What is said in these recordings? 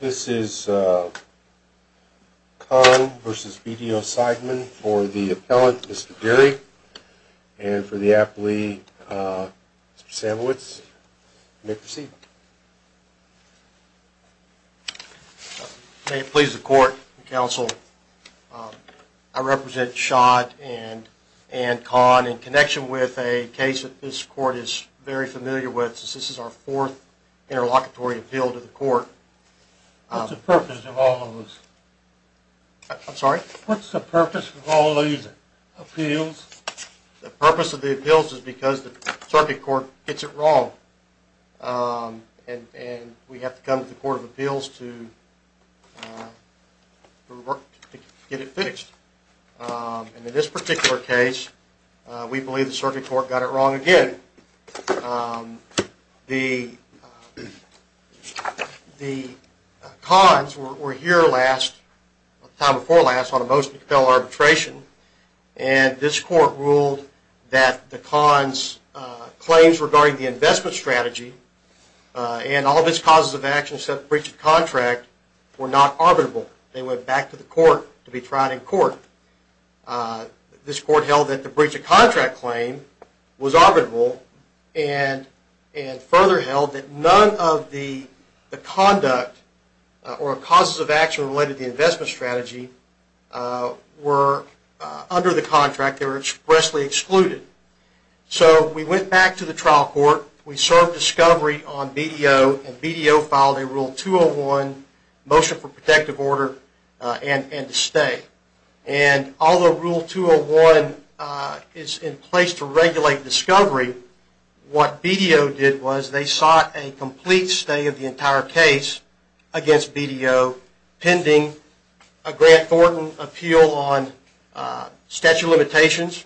This is Conn v. BDO Seidman for the appellant, Mr. Derry, and for the appellee, Mr. Samowitz. You may proceed. May it please the court and counsel, I represent Schott and Conn in connection with a case that this court is very familiar with. This is our fourth interlocutory appeal to the court. What's the purpose of all of this? I'm sorry? What's the purpose of all these appeals? The purpose of the appeals is because the circuit court gets it wrong, and we have to come to the court of appeals to get it fixed. In this particular case, we believe the circuit court got it wrong again. The Conns were here last, the time before last, on a mostly compelled arbitration, and this court ruled that the Conns' claims regarding the investment strategy and all of its causes of action except breach of contract were not arbitrable. They went back to the court to be tried in court. This court held that the breach of contract claim was arbitrable, and further held that none of the conduct or causes of action related to the investment strategy were under the contract. They were expressly excluded. So we went back to the trial court. We served discovery on BDO, and BDO filed a Rule 201 motion for protective order and to stay. And although Rule 201 is in place to regulate discovery, what BDO did was they sought a complete stay of the entire case against BDO pending a Grant Thornton appeal on statute of limitations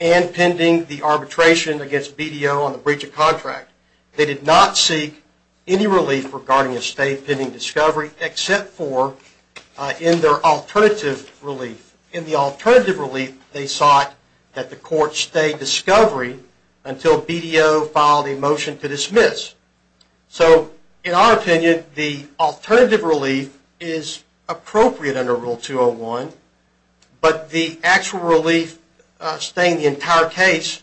and pending the arbitration against BDO on the breach of contract. They did not seek any relief regarding a stay pending discovery except for in their alternative relief. In the alternative relief, they sought that the court stay discovery until BDO filed a motion to dismiss. So in our opinion, the alternative relief is appropriate under Rule 201, but the actual relief staying the entire case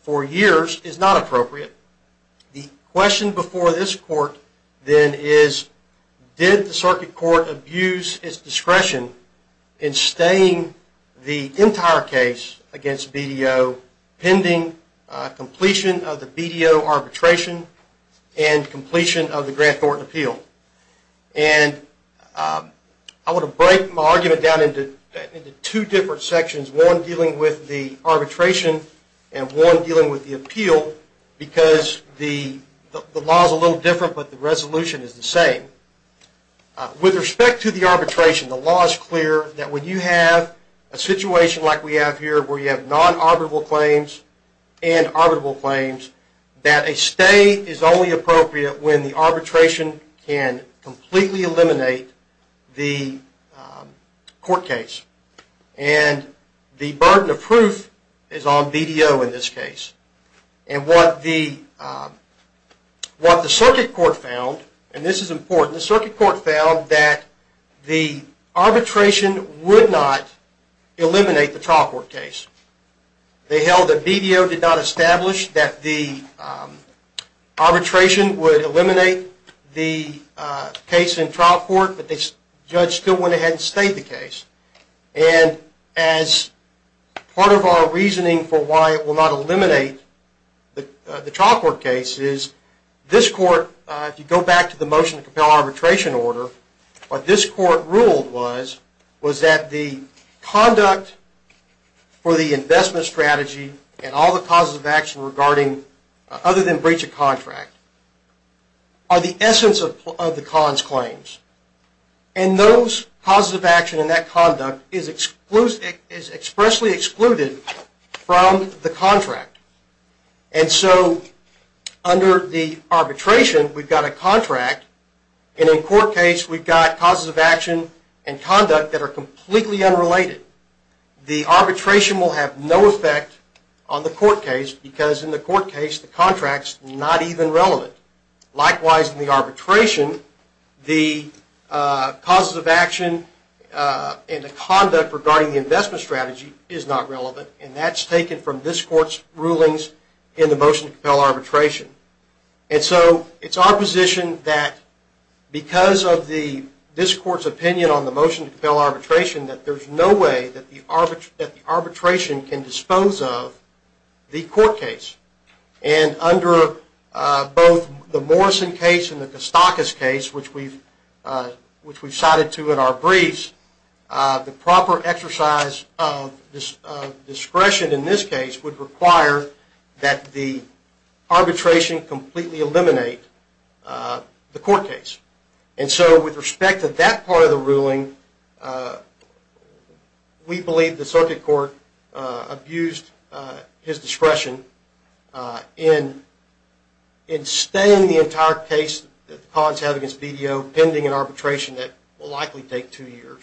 for years is not appropriate. The question before this court then is, did the circuit court abuse its discretion in staying the entire case against BDO pending completion of the BDO arbitration and completion of the Grant Thornton appeal? And I want to break my argument down into two different sections, one dealing with the arbitration and one dealing with the appeal, because the law is a little different, but the resolution is the same. With respect to the arbitration, the law is clear that when you have a situation like we have here where you have non-arbitrable claims and arbitrable claims, that a stay is only appropriate when the arbitration can completely eliminate the court case. And the burden of proof is on BDO in this case. And what the circuit court found, and this is important, the circuit court found that the arbitration would not eliminate the trial court case. They held that BDO did not establish that the arbitration would eliminate the case in trial court, but the judge still went ahead and stayed the case. And as part of our reasoning for why it will not eliminate the trial court case is, this court, if you go back to the motion to compel arbitration order, what this court ruled was that the conduct for the investment strategy and all the causes of action other than breach of contract are the essence of the cons claims. And those causes of action and that conduct is expressly excluded from the contract. And so under the arbitration we've got a contract, and in court case we've got causes of action and conduct that are completely unrelated. The arbitration will have no effect on the court case because in the court case the contract is not even relevant. Likewise in the arbitration, the causes of action and the conduct regarding the investment strategy is not relevant. And that's taken from this court's rulings in the motion to compel arbitration. And so it's our position that because of this court's opinion on the motion to compel arbitration, that there's no way that the arbitration can dispose of the court case. And under both the Morrison case and the Kostakis case, which we've cited to in our briefs, the proper exercise of discretion in this case would require that the arbitration completely eliminate the court case. And so with respect to that part of the ruling, we believe the circuit court abused his discretion in staying the entire case that the cons have against BDO pending an arbitration that will likely take two years.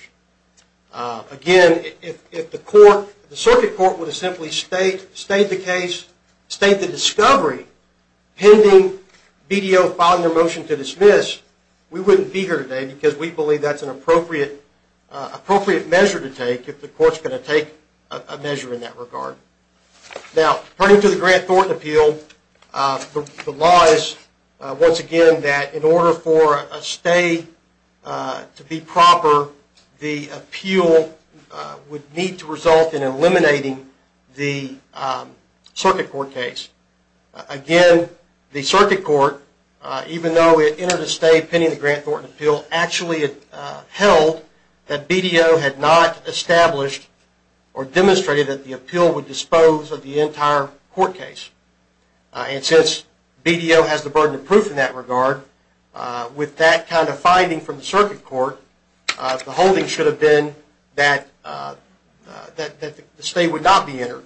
Again, if the circuit court would have simply stayed the case, stayed the discovery pending BDO filing their motion to dismiss, we wouldn't be here today because we believe that's an appropriate measure to take if the court's going to take a measure in that regard. Now, according to the Grant Thornton Appeal, the law is once again that in order for a stay to be proper, the appeal would need to result in eliminating the circuit court case. Again, the circuit court, even though it entered a stay pending the Grant Thornton Appeal, actually held that BDO had not established or demonstrated that the appeal would dispose of the entire court case. And since BDO has the burden of proof in that regard, with that kind of finding from the circuit court, the holding should have been that the stay would not be entered.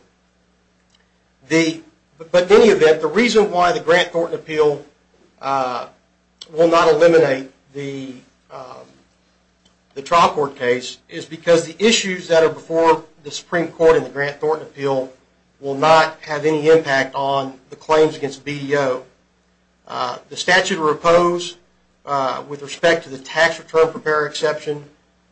But in any event, the reason why the Grant Thornton Appeal will not eliminate the trial court case is because the issues that are before the Supreme Court in the Grant Thornton Appeal will not have any impact on the claims against BDO. The statute will oppose with respect to the tax return prepare exception.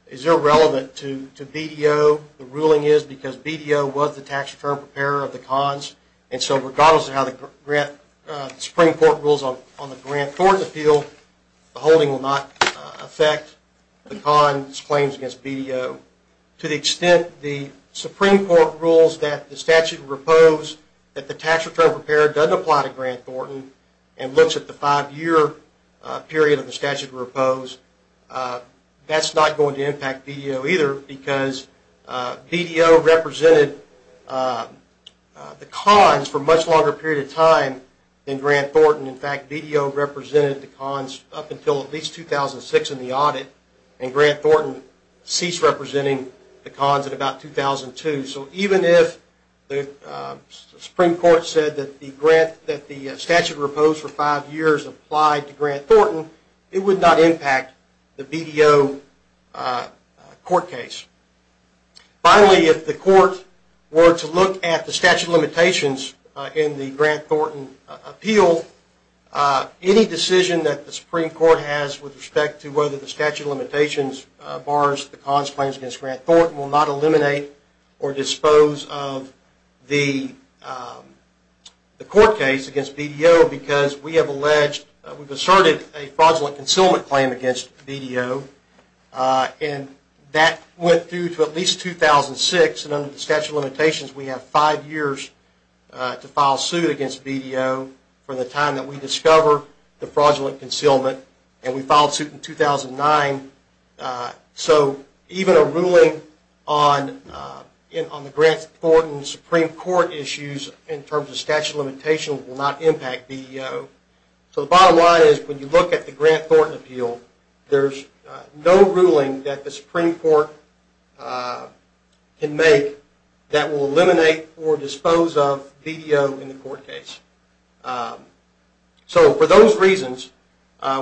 It's irrelevant to BDO. The ruling is because BDO was the tax return preparer of the cons, and so regardless of how the Supreme Court rules on the Grant Thornton Appeal, the holding will not affect the cons claims against BDO. To the extent the Supreme Court rules that the statute will oppose that the tax return preparer doesn't apply to Grant Thornton and looks at the five-year period of the statute will oppose, that's not going to impact BDO either because BDO represented the cons for a much longer period of time than Grant Thornton. In fact, BDO represented the cons up until at least 2006 in the audit, and Grant Thornton ceased representing the cons at about 2002. So even if the Supreme Court said that the statute opposed for five years applied to Grant Thornton, it would not impact the BDO court case. Finally, if the court were to look at the statute of limitations in the Grant Thornton Appeal, any decision that the Supreme Court has with respect to whether the statute of limitations bars the cons claims against Grant Thornton will not eliminate or dispose of the court case against BDO because we have asserted a fraudulent concealment claim against BDO, and that went through to at least 2006, and under the statute of limitations, we have five years to file suit against BDO for the time that we discover the fraudulent concealment, and we filed suit in 2009. So even a ruling on the Grant Thornton Supreme Court issues in terms of statute of limitations will not impact BDO. So the bottom line is when you look at the Grant Thornton Appeal, there's no ruling that the Supreme Court can make that will eliminate or dispose of BDO in the court case. So for those reasons,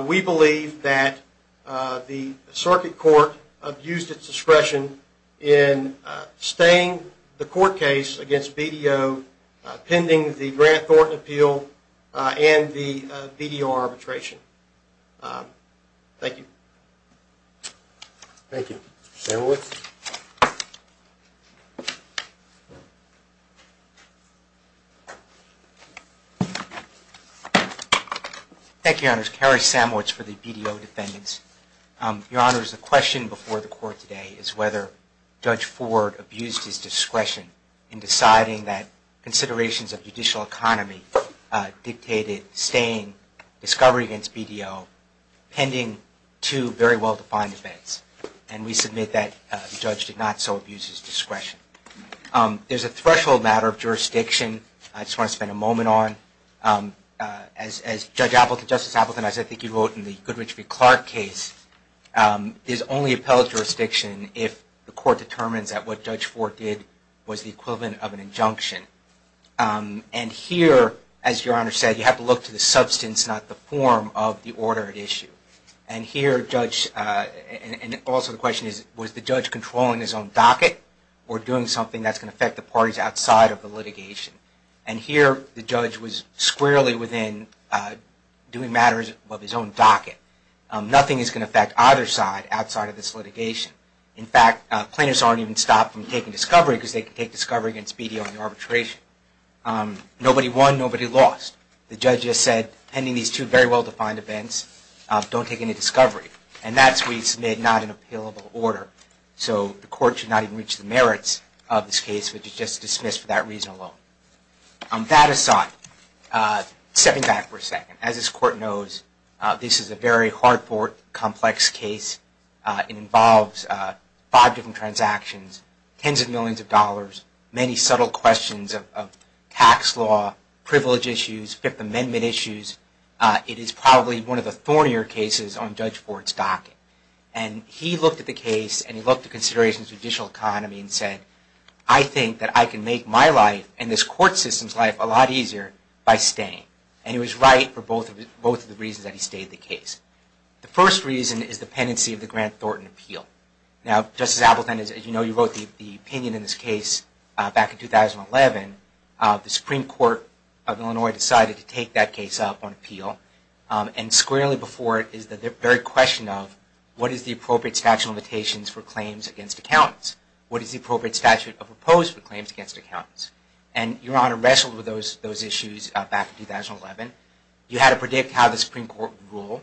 we believe that the Circuit Court abused its discretion in staying the court case against BDO pending the Grant Thornton Appeal and the BDO arbitration. Thank you. Thank you. Samowitz. Thank you, Your Honors. Cary Samowitz for the BDO defendants. Your Honors, the question before the court today is whether Judge Ford abused his discretion in deciding that considerations of judicial economy dictated staying discovery against BDO pending two very well-defined events, and we submit that the judge did not so abuse his discretion. There's a threshold matter of jurisdiction I just want to spend a moment on. As Justice Appleton, as I think you wrote in the Goodrich v. Clark case, there's only appellate jurisdiction if the court determines that what Judge Ford did was the equivalent of an injunction. And here, as Your Honor said, you have to look to the substance, not the form, of the order at issue. And also the question is, was the judge controlling his own docket or doing something that's going to affect the parties outside of the litigation? And here, the judge was squarely within doing matters of his own docket. Nothing is going to affect either side outside of this litigation. In fact, plaintiffs aren't even stopped from taking discovery because they can take discovery against BDO in arbitration. Nobody won, nobody lost. The judge just said, pending these two very well-defined events, don't take any discovery. And that's, we submit, not an appealable order. So the court should not even reach the merits of this case, which is just dismissed for that reason alone. On that aside, stepping back for a second. As this court knows, this is a very hard-fought, complex case. It involves five different transactions, tens of millions of dollars, many subtle questions of tax law, privilege issues, Fifth Amendment issues. It is probably one of the thornier cases on Judge Ford's docket. And he looked at the case and he looked at considerations of judicial economy and said, I think that I can make my life and this court system's life a lot easier by staying. And he was right for both of the reasons that he stayed the case. The first reason is the pendency of the Grant Thornton appeal. Now, Justice Appleton, as you know, you wrote the opinion in this case back in 2011. The Supreme Court of Illinois decided to take that case up on appeal. And squarely before it is the very question of what is the appropriate statute of limitations for claims against accountants? What is the appropriate statute of oppose for claims against accountants? And your Honor wrestled with those issues back in 2011. You had to predict how the Supreme Court would rule.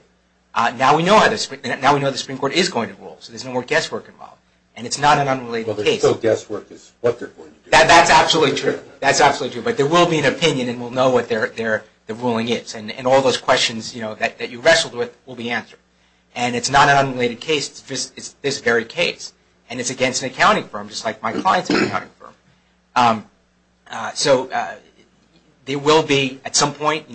Now we know the Supreme Court is going to rule, so there's no more guesswork involved. And it's not an unrelated case. Well, there's still guesswork as to what they're going to do. That's absolutely true. That's absolutely true. But there will be an opinion, and we'll know what the ruling is. And all those questions that you wrestled with will be answered. And it's not an unrelated case. It's just this very case. And it's against an accounting firm, just like my clients are an accounting firm. So there will be at some point,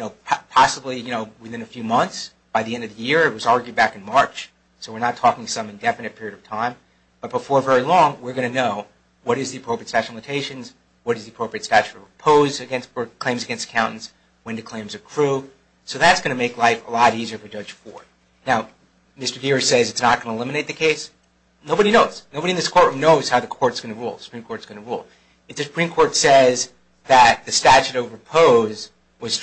possibly within a few months, by the end of the year. It was argued back in March. So we're not talking some indefinite period of time. But before very long, we're going to know what is the appropriate statute of limitations, what is the appropriate statute of repose for claims against accountants, when do claims accrue. So that's going to make life a lot easier for Judge Ford. Now, Mr. Deere says it's not going to eliminate the case. Nobody knows. Nobody in this courtroom knows how the Supreme Court is going to rule. If the Supreme Court says that the statute of repose is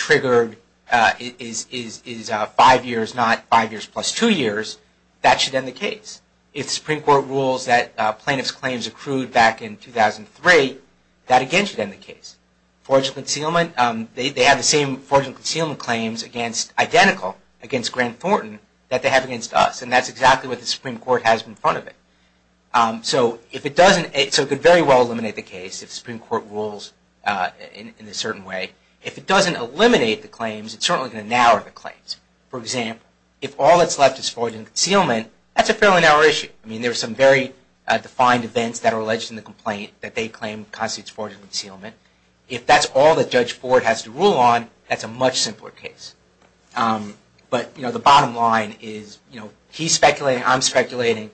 five years, not five years plus two years, that should end the case. If the Supreme Court rules that plaintiff's claims accrued back in 2003, that again should end the case. Forge and concealment, they have the same Forge and concealment claims identical against Grant Thornton that they have against us. And that's exactly what the Supreme Court has in front of it. So it could very well eliminate the case if the Supreme Court rules in a certain way. If it doesn't eliminate the claims, it's certainly going to narrow the claims. For example, if all that's left is Forge and Concealment, that's a fairly narrow issue. I mean, there are some very defined events that are alleged in the complaint that they claim constitutes Forge and Concealment. If that's all that Judge Ford has to rule on, that's a much simpler case. But, you know, the bottom line is, you know, he's speculating, I'm speculating.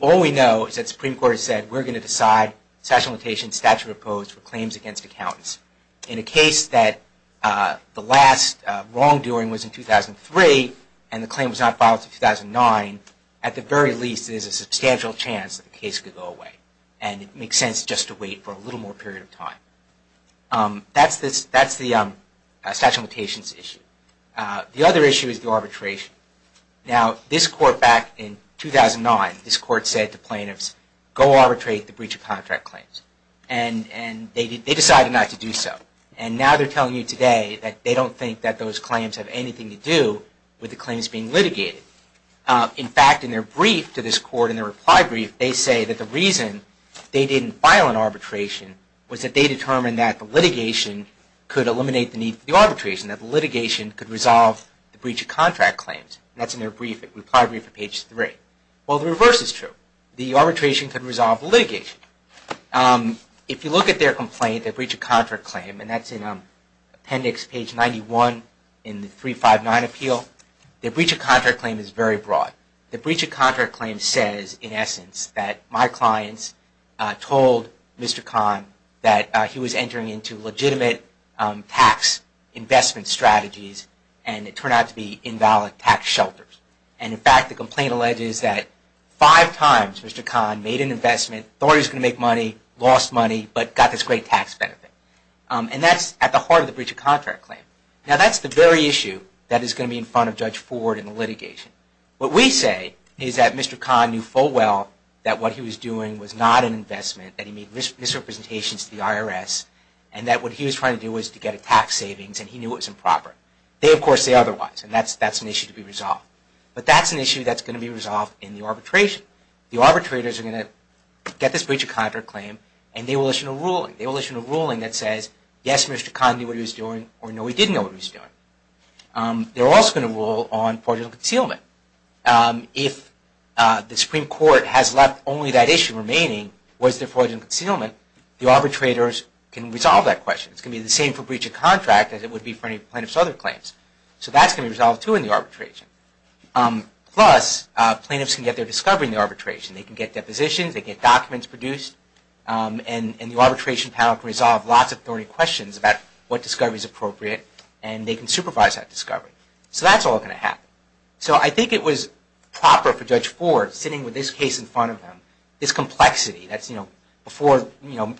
All we know is that the Supreme Court has said we're going to decide, statute of limitations, statute of opposed for claims against accountants. In a case that the last wrongdoing was in 2003 and the claim was not filed until 2009, at the very least there's a substantial chance that the case could go away. And it makes sense just to wait for a little more period of time. That's the statute of limitations issue. The other issue is the arbitration. Now, this court back in 2009, this court said to plaintiffs, go arbitrate the breach of contract claims. And they decided not to do so. And now they're telling you today that they don't think that those claims have anything to do with the claims being litigated. In fact, in their brief to this court, in their reply brief, they say that the reason they didn't file an arbitration was that they determined that the litigation could eliminate the need for the arbitration, that the litigation could resolve the breach of contract claims. That's in their reply brief at page 3. Well, the reverse is true. The arbitration could resolve the litigation. If you look at their complaint, their breach of contract claim, and that's in appendix page 91 in the 359 appeal, their breach of contract claim is very broad. Their breach of contract claim says, in essence, that my clients told Mr. Kahn that he was entering into legitimate tax investment strategies and it turned out to be invalid tax shelters. And, in fact, the complaint alleges that five times Mr. Kahn made an investment, thought he was going to make money, lost money, but got this great tax benefit. And that's at the heart of the breach of contract claim. Now, that's the very issue that is going to be in front of Judge Ford in the litigation. What we say is that Mr. Kahn knew full well that what he was doing was not an investment, that he made misrepresentations to the IRS, and that what he was trying to do was to get a tax savings, and he knew it was improper. They, of course, say otherwise, and that's an issue to be resolved. But that's an issue that's going to be resolved in the arbitration. The arbitrators are going to get this breach of contract claim, and they will issue a ruling. They will issue a ruling that says, yes, Mr. Kahn knew what he was doing, or no, he didn't know what he was doing. They're also going to rule on portion of concealment. If the Supreme Court has left only that issue remaining, was there portion of concealment, the arbitrators can resolve that question. It's going to be the same for breach of contract as it would be for any plaintiff's other claims. So that's going to be resolved, too, in the arbitration. Plus, plaintiffs can get their discovery in the arbitration. They can get depositions. They can get documents produced. And the arbitration panel can resolve lots of thorny questions about what discovery is appropriate, and they can supervise that discovery. So that's all going to happen. So I think it was proper for Judge Ford, sitting with this case in front of him, this complexity. Before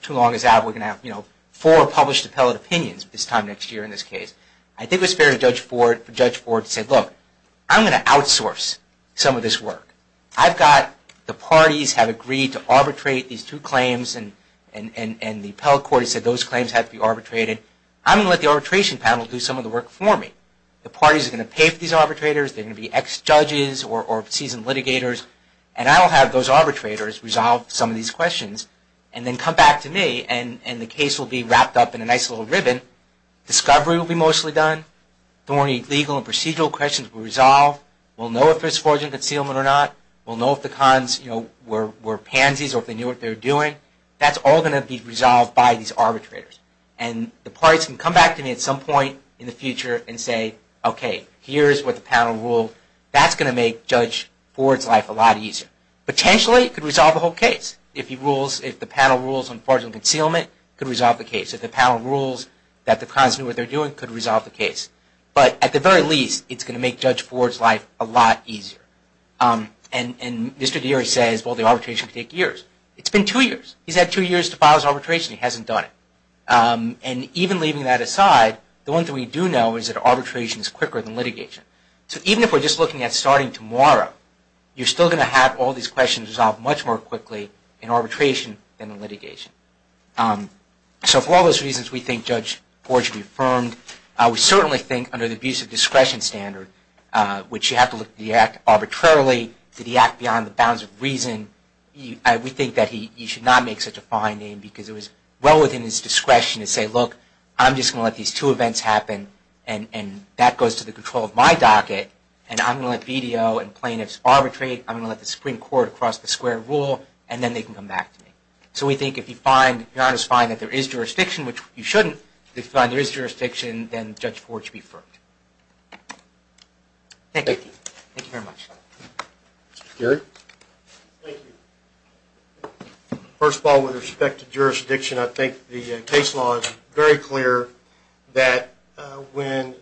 too long is out, we're going to have four published appellate opinions this time next year in this case. I think it was fair for Judge Ford to say, look, I'm going to outsource some of this work. I've got the parties have agreed to arbitrate these two claims, and the appellate court has said those claims have to be arbitrated. I'm going to let the arbitration panel do some of the work for me. The parties are going to pay for these arbitrators. They're going to be ex-judges or seasoned litigators. And I'll have those arbitrators resolve some of these questions and then come back to me, and the case will be wrapped up in a nice little ribbon. Discovery will be mostly done. Thorny legal and procedural questions will be resolved. We'll know if there's fraudulent concealment or not. We'll know if the cons were pansies or if they knew what they were doing. That's all going to be resolved by these arbitrators. And the parties can come back to me at some point in the future and say, okay, here's what the panel ruled. That's going to make Judge Ford's life a lot easier. Potentially, it could resolve the whole case. If the panel rules on fraudulent concealment, it could resolve the case. If the panel rules that the cons knew what they were doing, it could resolve the case. But at the very least, it's going to make Judge Ford's life a lot easier. And Mr. Deary says, well, the arbitration could take years. It's been two years. He's had two years to file his arbitration. He hasn't done it. And even leaving that aside, the one thing we do know is that arbitration is quicker than litigation. So even if we're just looking at starting tomorrow, you're still going to have all these questions resolved much more quickly in arbitration than in litigation. So for all those reasons we think Judge Ford should be affirmed, we certainly think under the abuse of discretion standard, which you have to look at the act arbitrarily, to the act beyond the bounds of reason, we think that he should not make such a fine name because it was well within his discretion to say, look, I'm just going to let these two events happen, and that goes to the control of my docket, and I'm going to let BDO and plaintiffs arbitrate. I'm going to let the Supreme Court cross the square rule, and then they can come back to me. So we think if you find that there is jurisdiction, which you shouldn't, if you find there is jurisdiction, then Judge Ford should be affirmed. Thank you. Thank you very much. Gary? Thank you. First of all, with respect to jurisdiction, I think the case law is very clear that when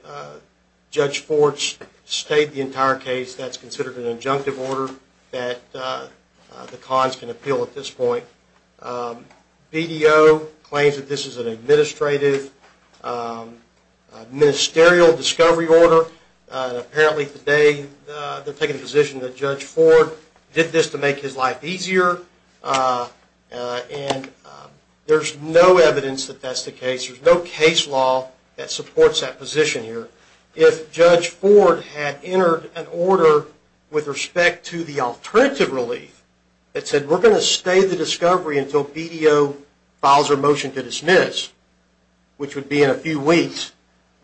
Judge Ford's stayed the entire case, that's considered an injunctive order that the cons can appeal at this point. BDO claims that this is an administrative, ministerial discovery order. Apparently today they're taking the position that Judge Ford did this to make his life easier, and there's no evidence that that's the case. There's no case law that supports that position here. If Judge Ford had entered an order with respect to the alternative relief that said, we're going to stay the discovery until BDO files a motion to dismiss, which would be in a few weeks,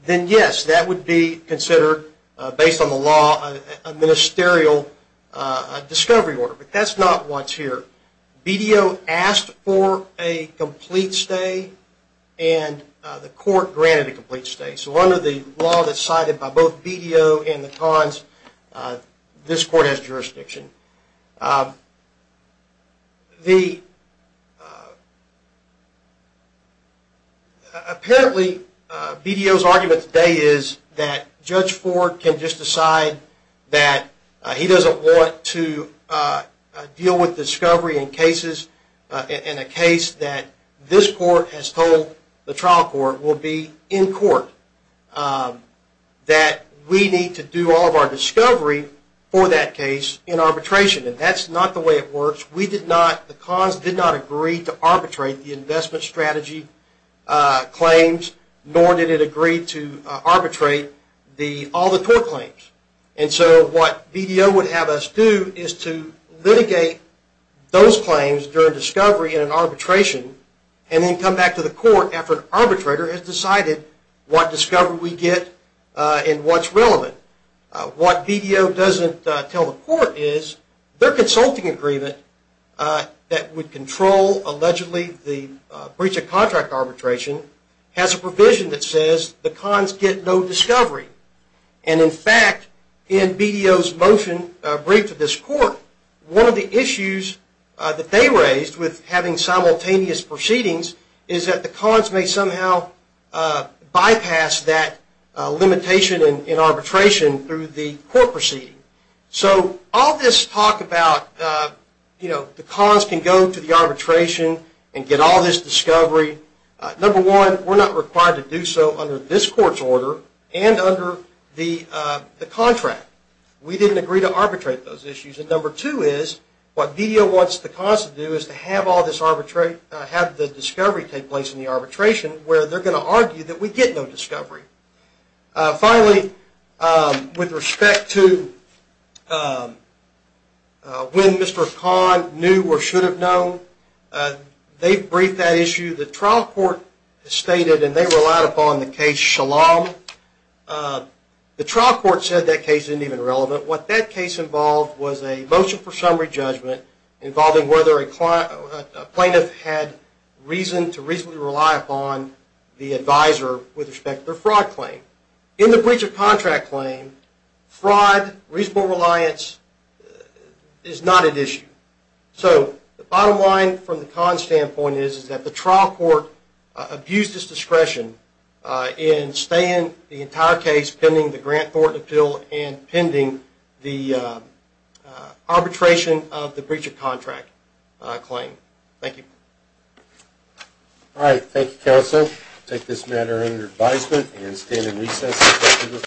then yes, that would be considered, based on the law, a ministerial discovery order. But that's not what's here. BDO asked for a complete stay, and the court granted a complete stay. So under the law that's cited by both BDO and the cons, this court has jurisdiction. Apparently BDO's argument today is that Judge Ford can just decide that he doesn't want to deal with discovery in cases, in a case that this court has told the trial court will be in court. That we need to do all of our discovery for that case in arbitration. And that's not the way it works. The cons did not agree to arbitrate the investment strategy claims, nor did it agree to arbitrate all the tort claims. And so what BDO would have us do is to litigate those claims during discovery in an arbitration, and then come back to the court after an arbitrator has decided what discovery we get and what's relevant. What BDO doesn't tell the court is their consulting agreement that would control, allegedly, the breach of contract arbitration, has a provision that says the cons get no discovery. And in fact, in BDO's motion briefed to this court, one of the issues that they raised with having simultaneous proceedings, is that the cons may somehow bypass that limitation in arbitration through the court proceeding. So all this talk about the cons can go to the arbitration and get all this discovery, number one, we're not required to do so under this court's order and under the contract. We didn't agree to arbitrate those issues. And number two is, what BDO wants the cons to do is to have the discovery take place in the arbitration, where they're going to argue that we get no discovery. Finally, with respect to when Mr. Kahn knew or should have known, they briefed that issue. The trial court stated, and they relied upon the case Shalom. The trial court said that case isn't even relevant. What that case involved was a motion for summary judgment involving whether a plaintiff had reason to reasonably rely upon the advisor with respect to their fraud claim. In the breach of contract claim, fraud, reasonable reliance, is not at issue. So the bottom line from the cons standpoint is that the trial court abused its discretion in staying the entire case pending the Grant-Thornton appeal and pending the arbitration of the breach of contract claim. Thank you. All right. Thank you, Counselor. I take this matter under advisement and stand in recess.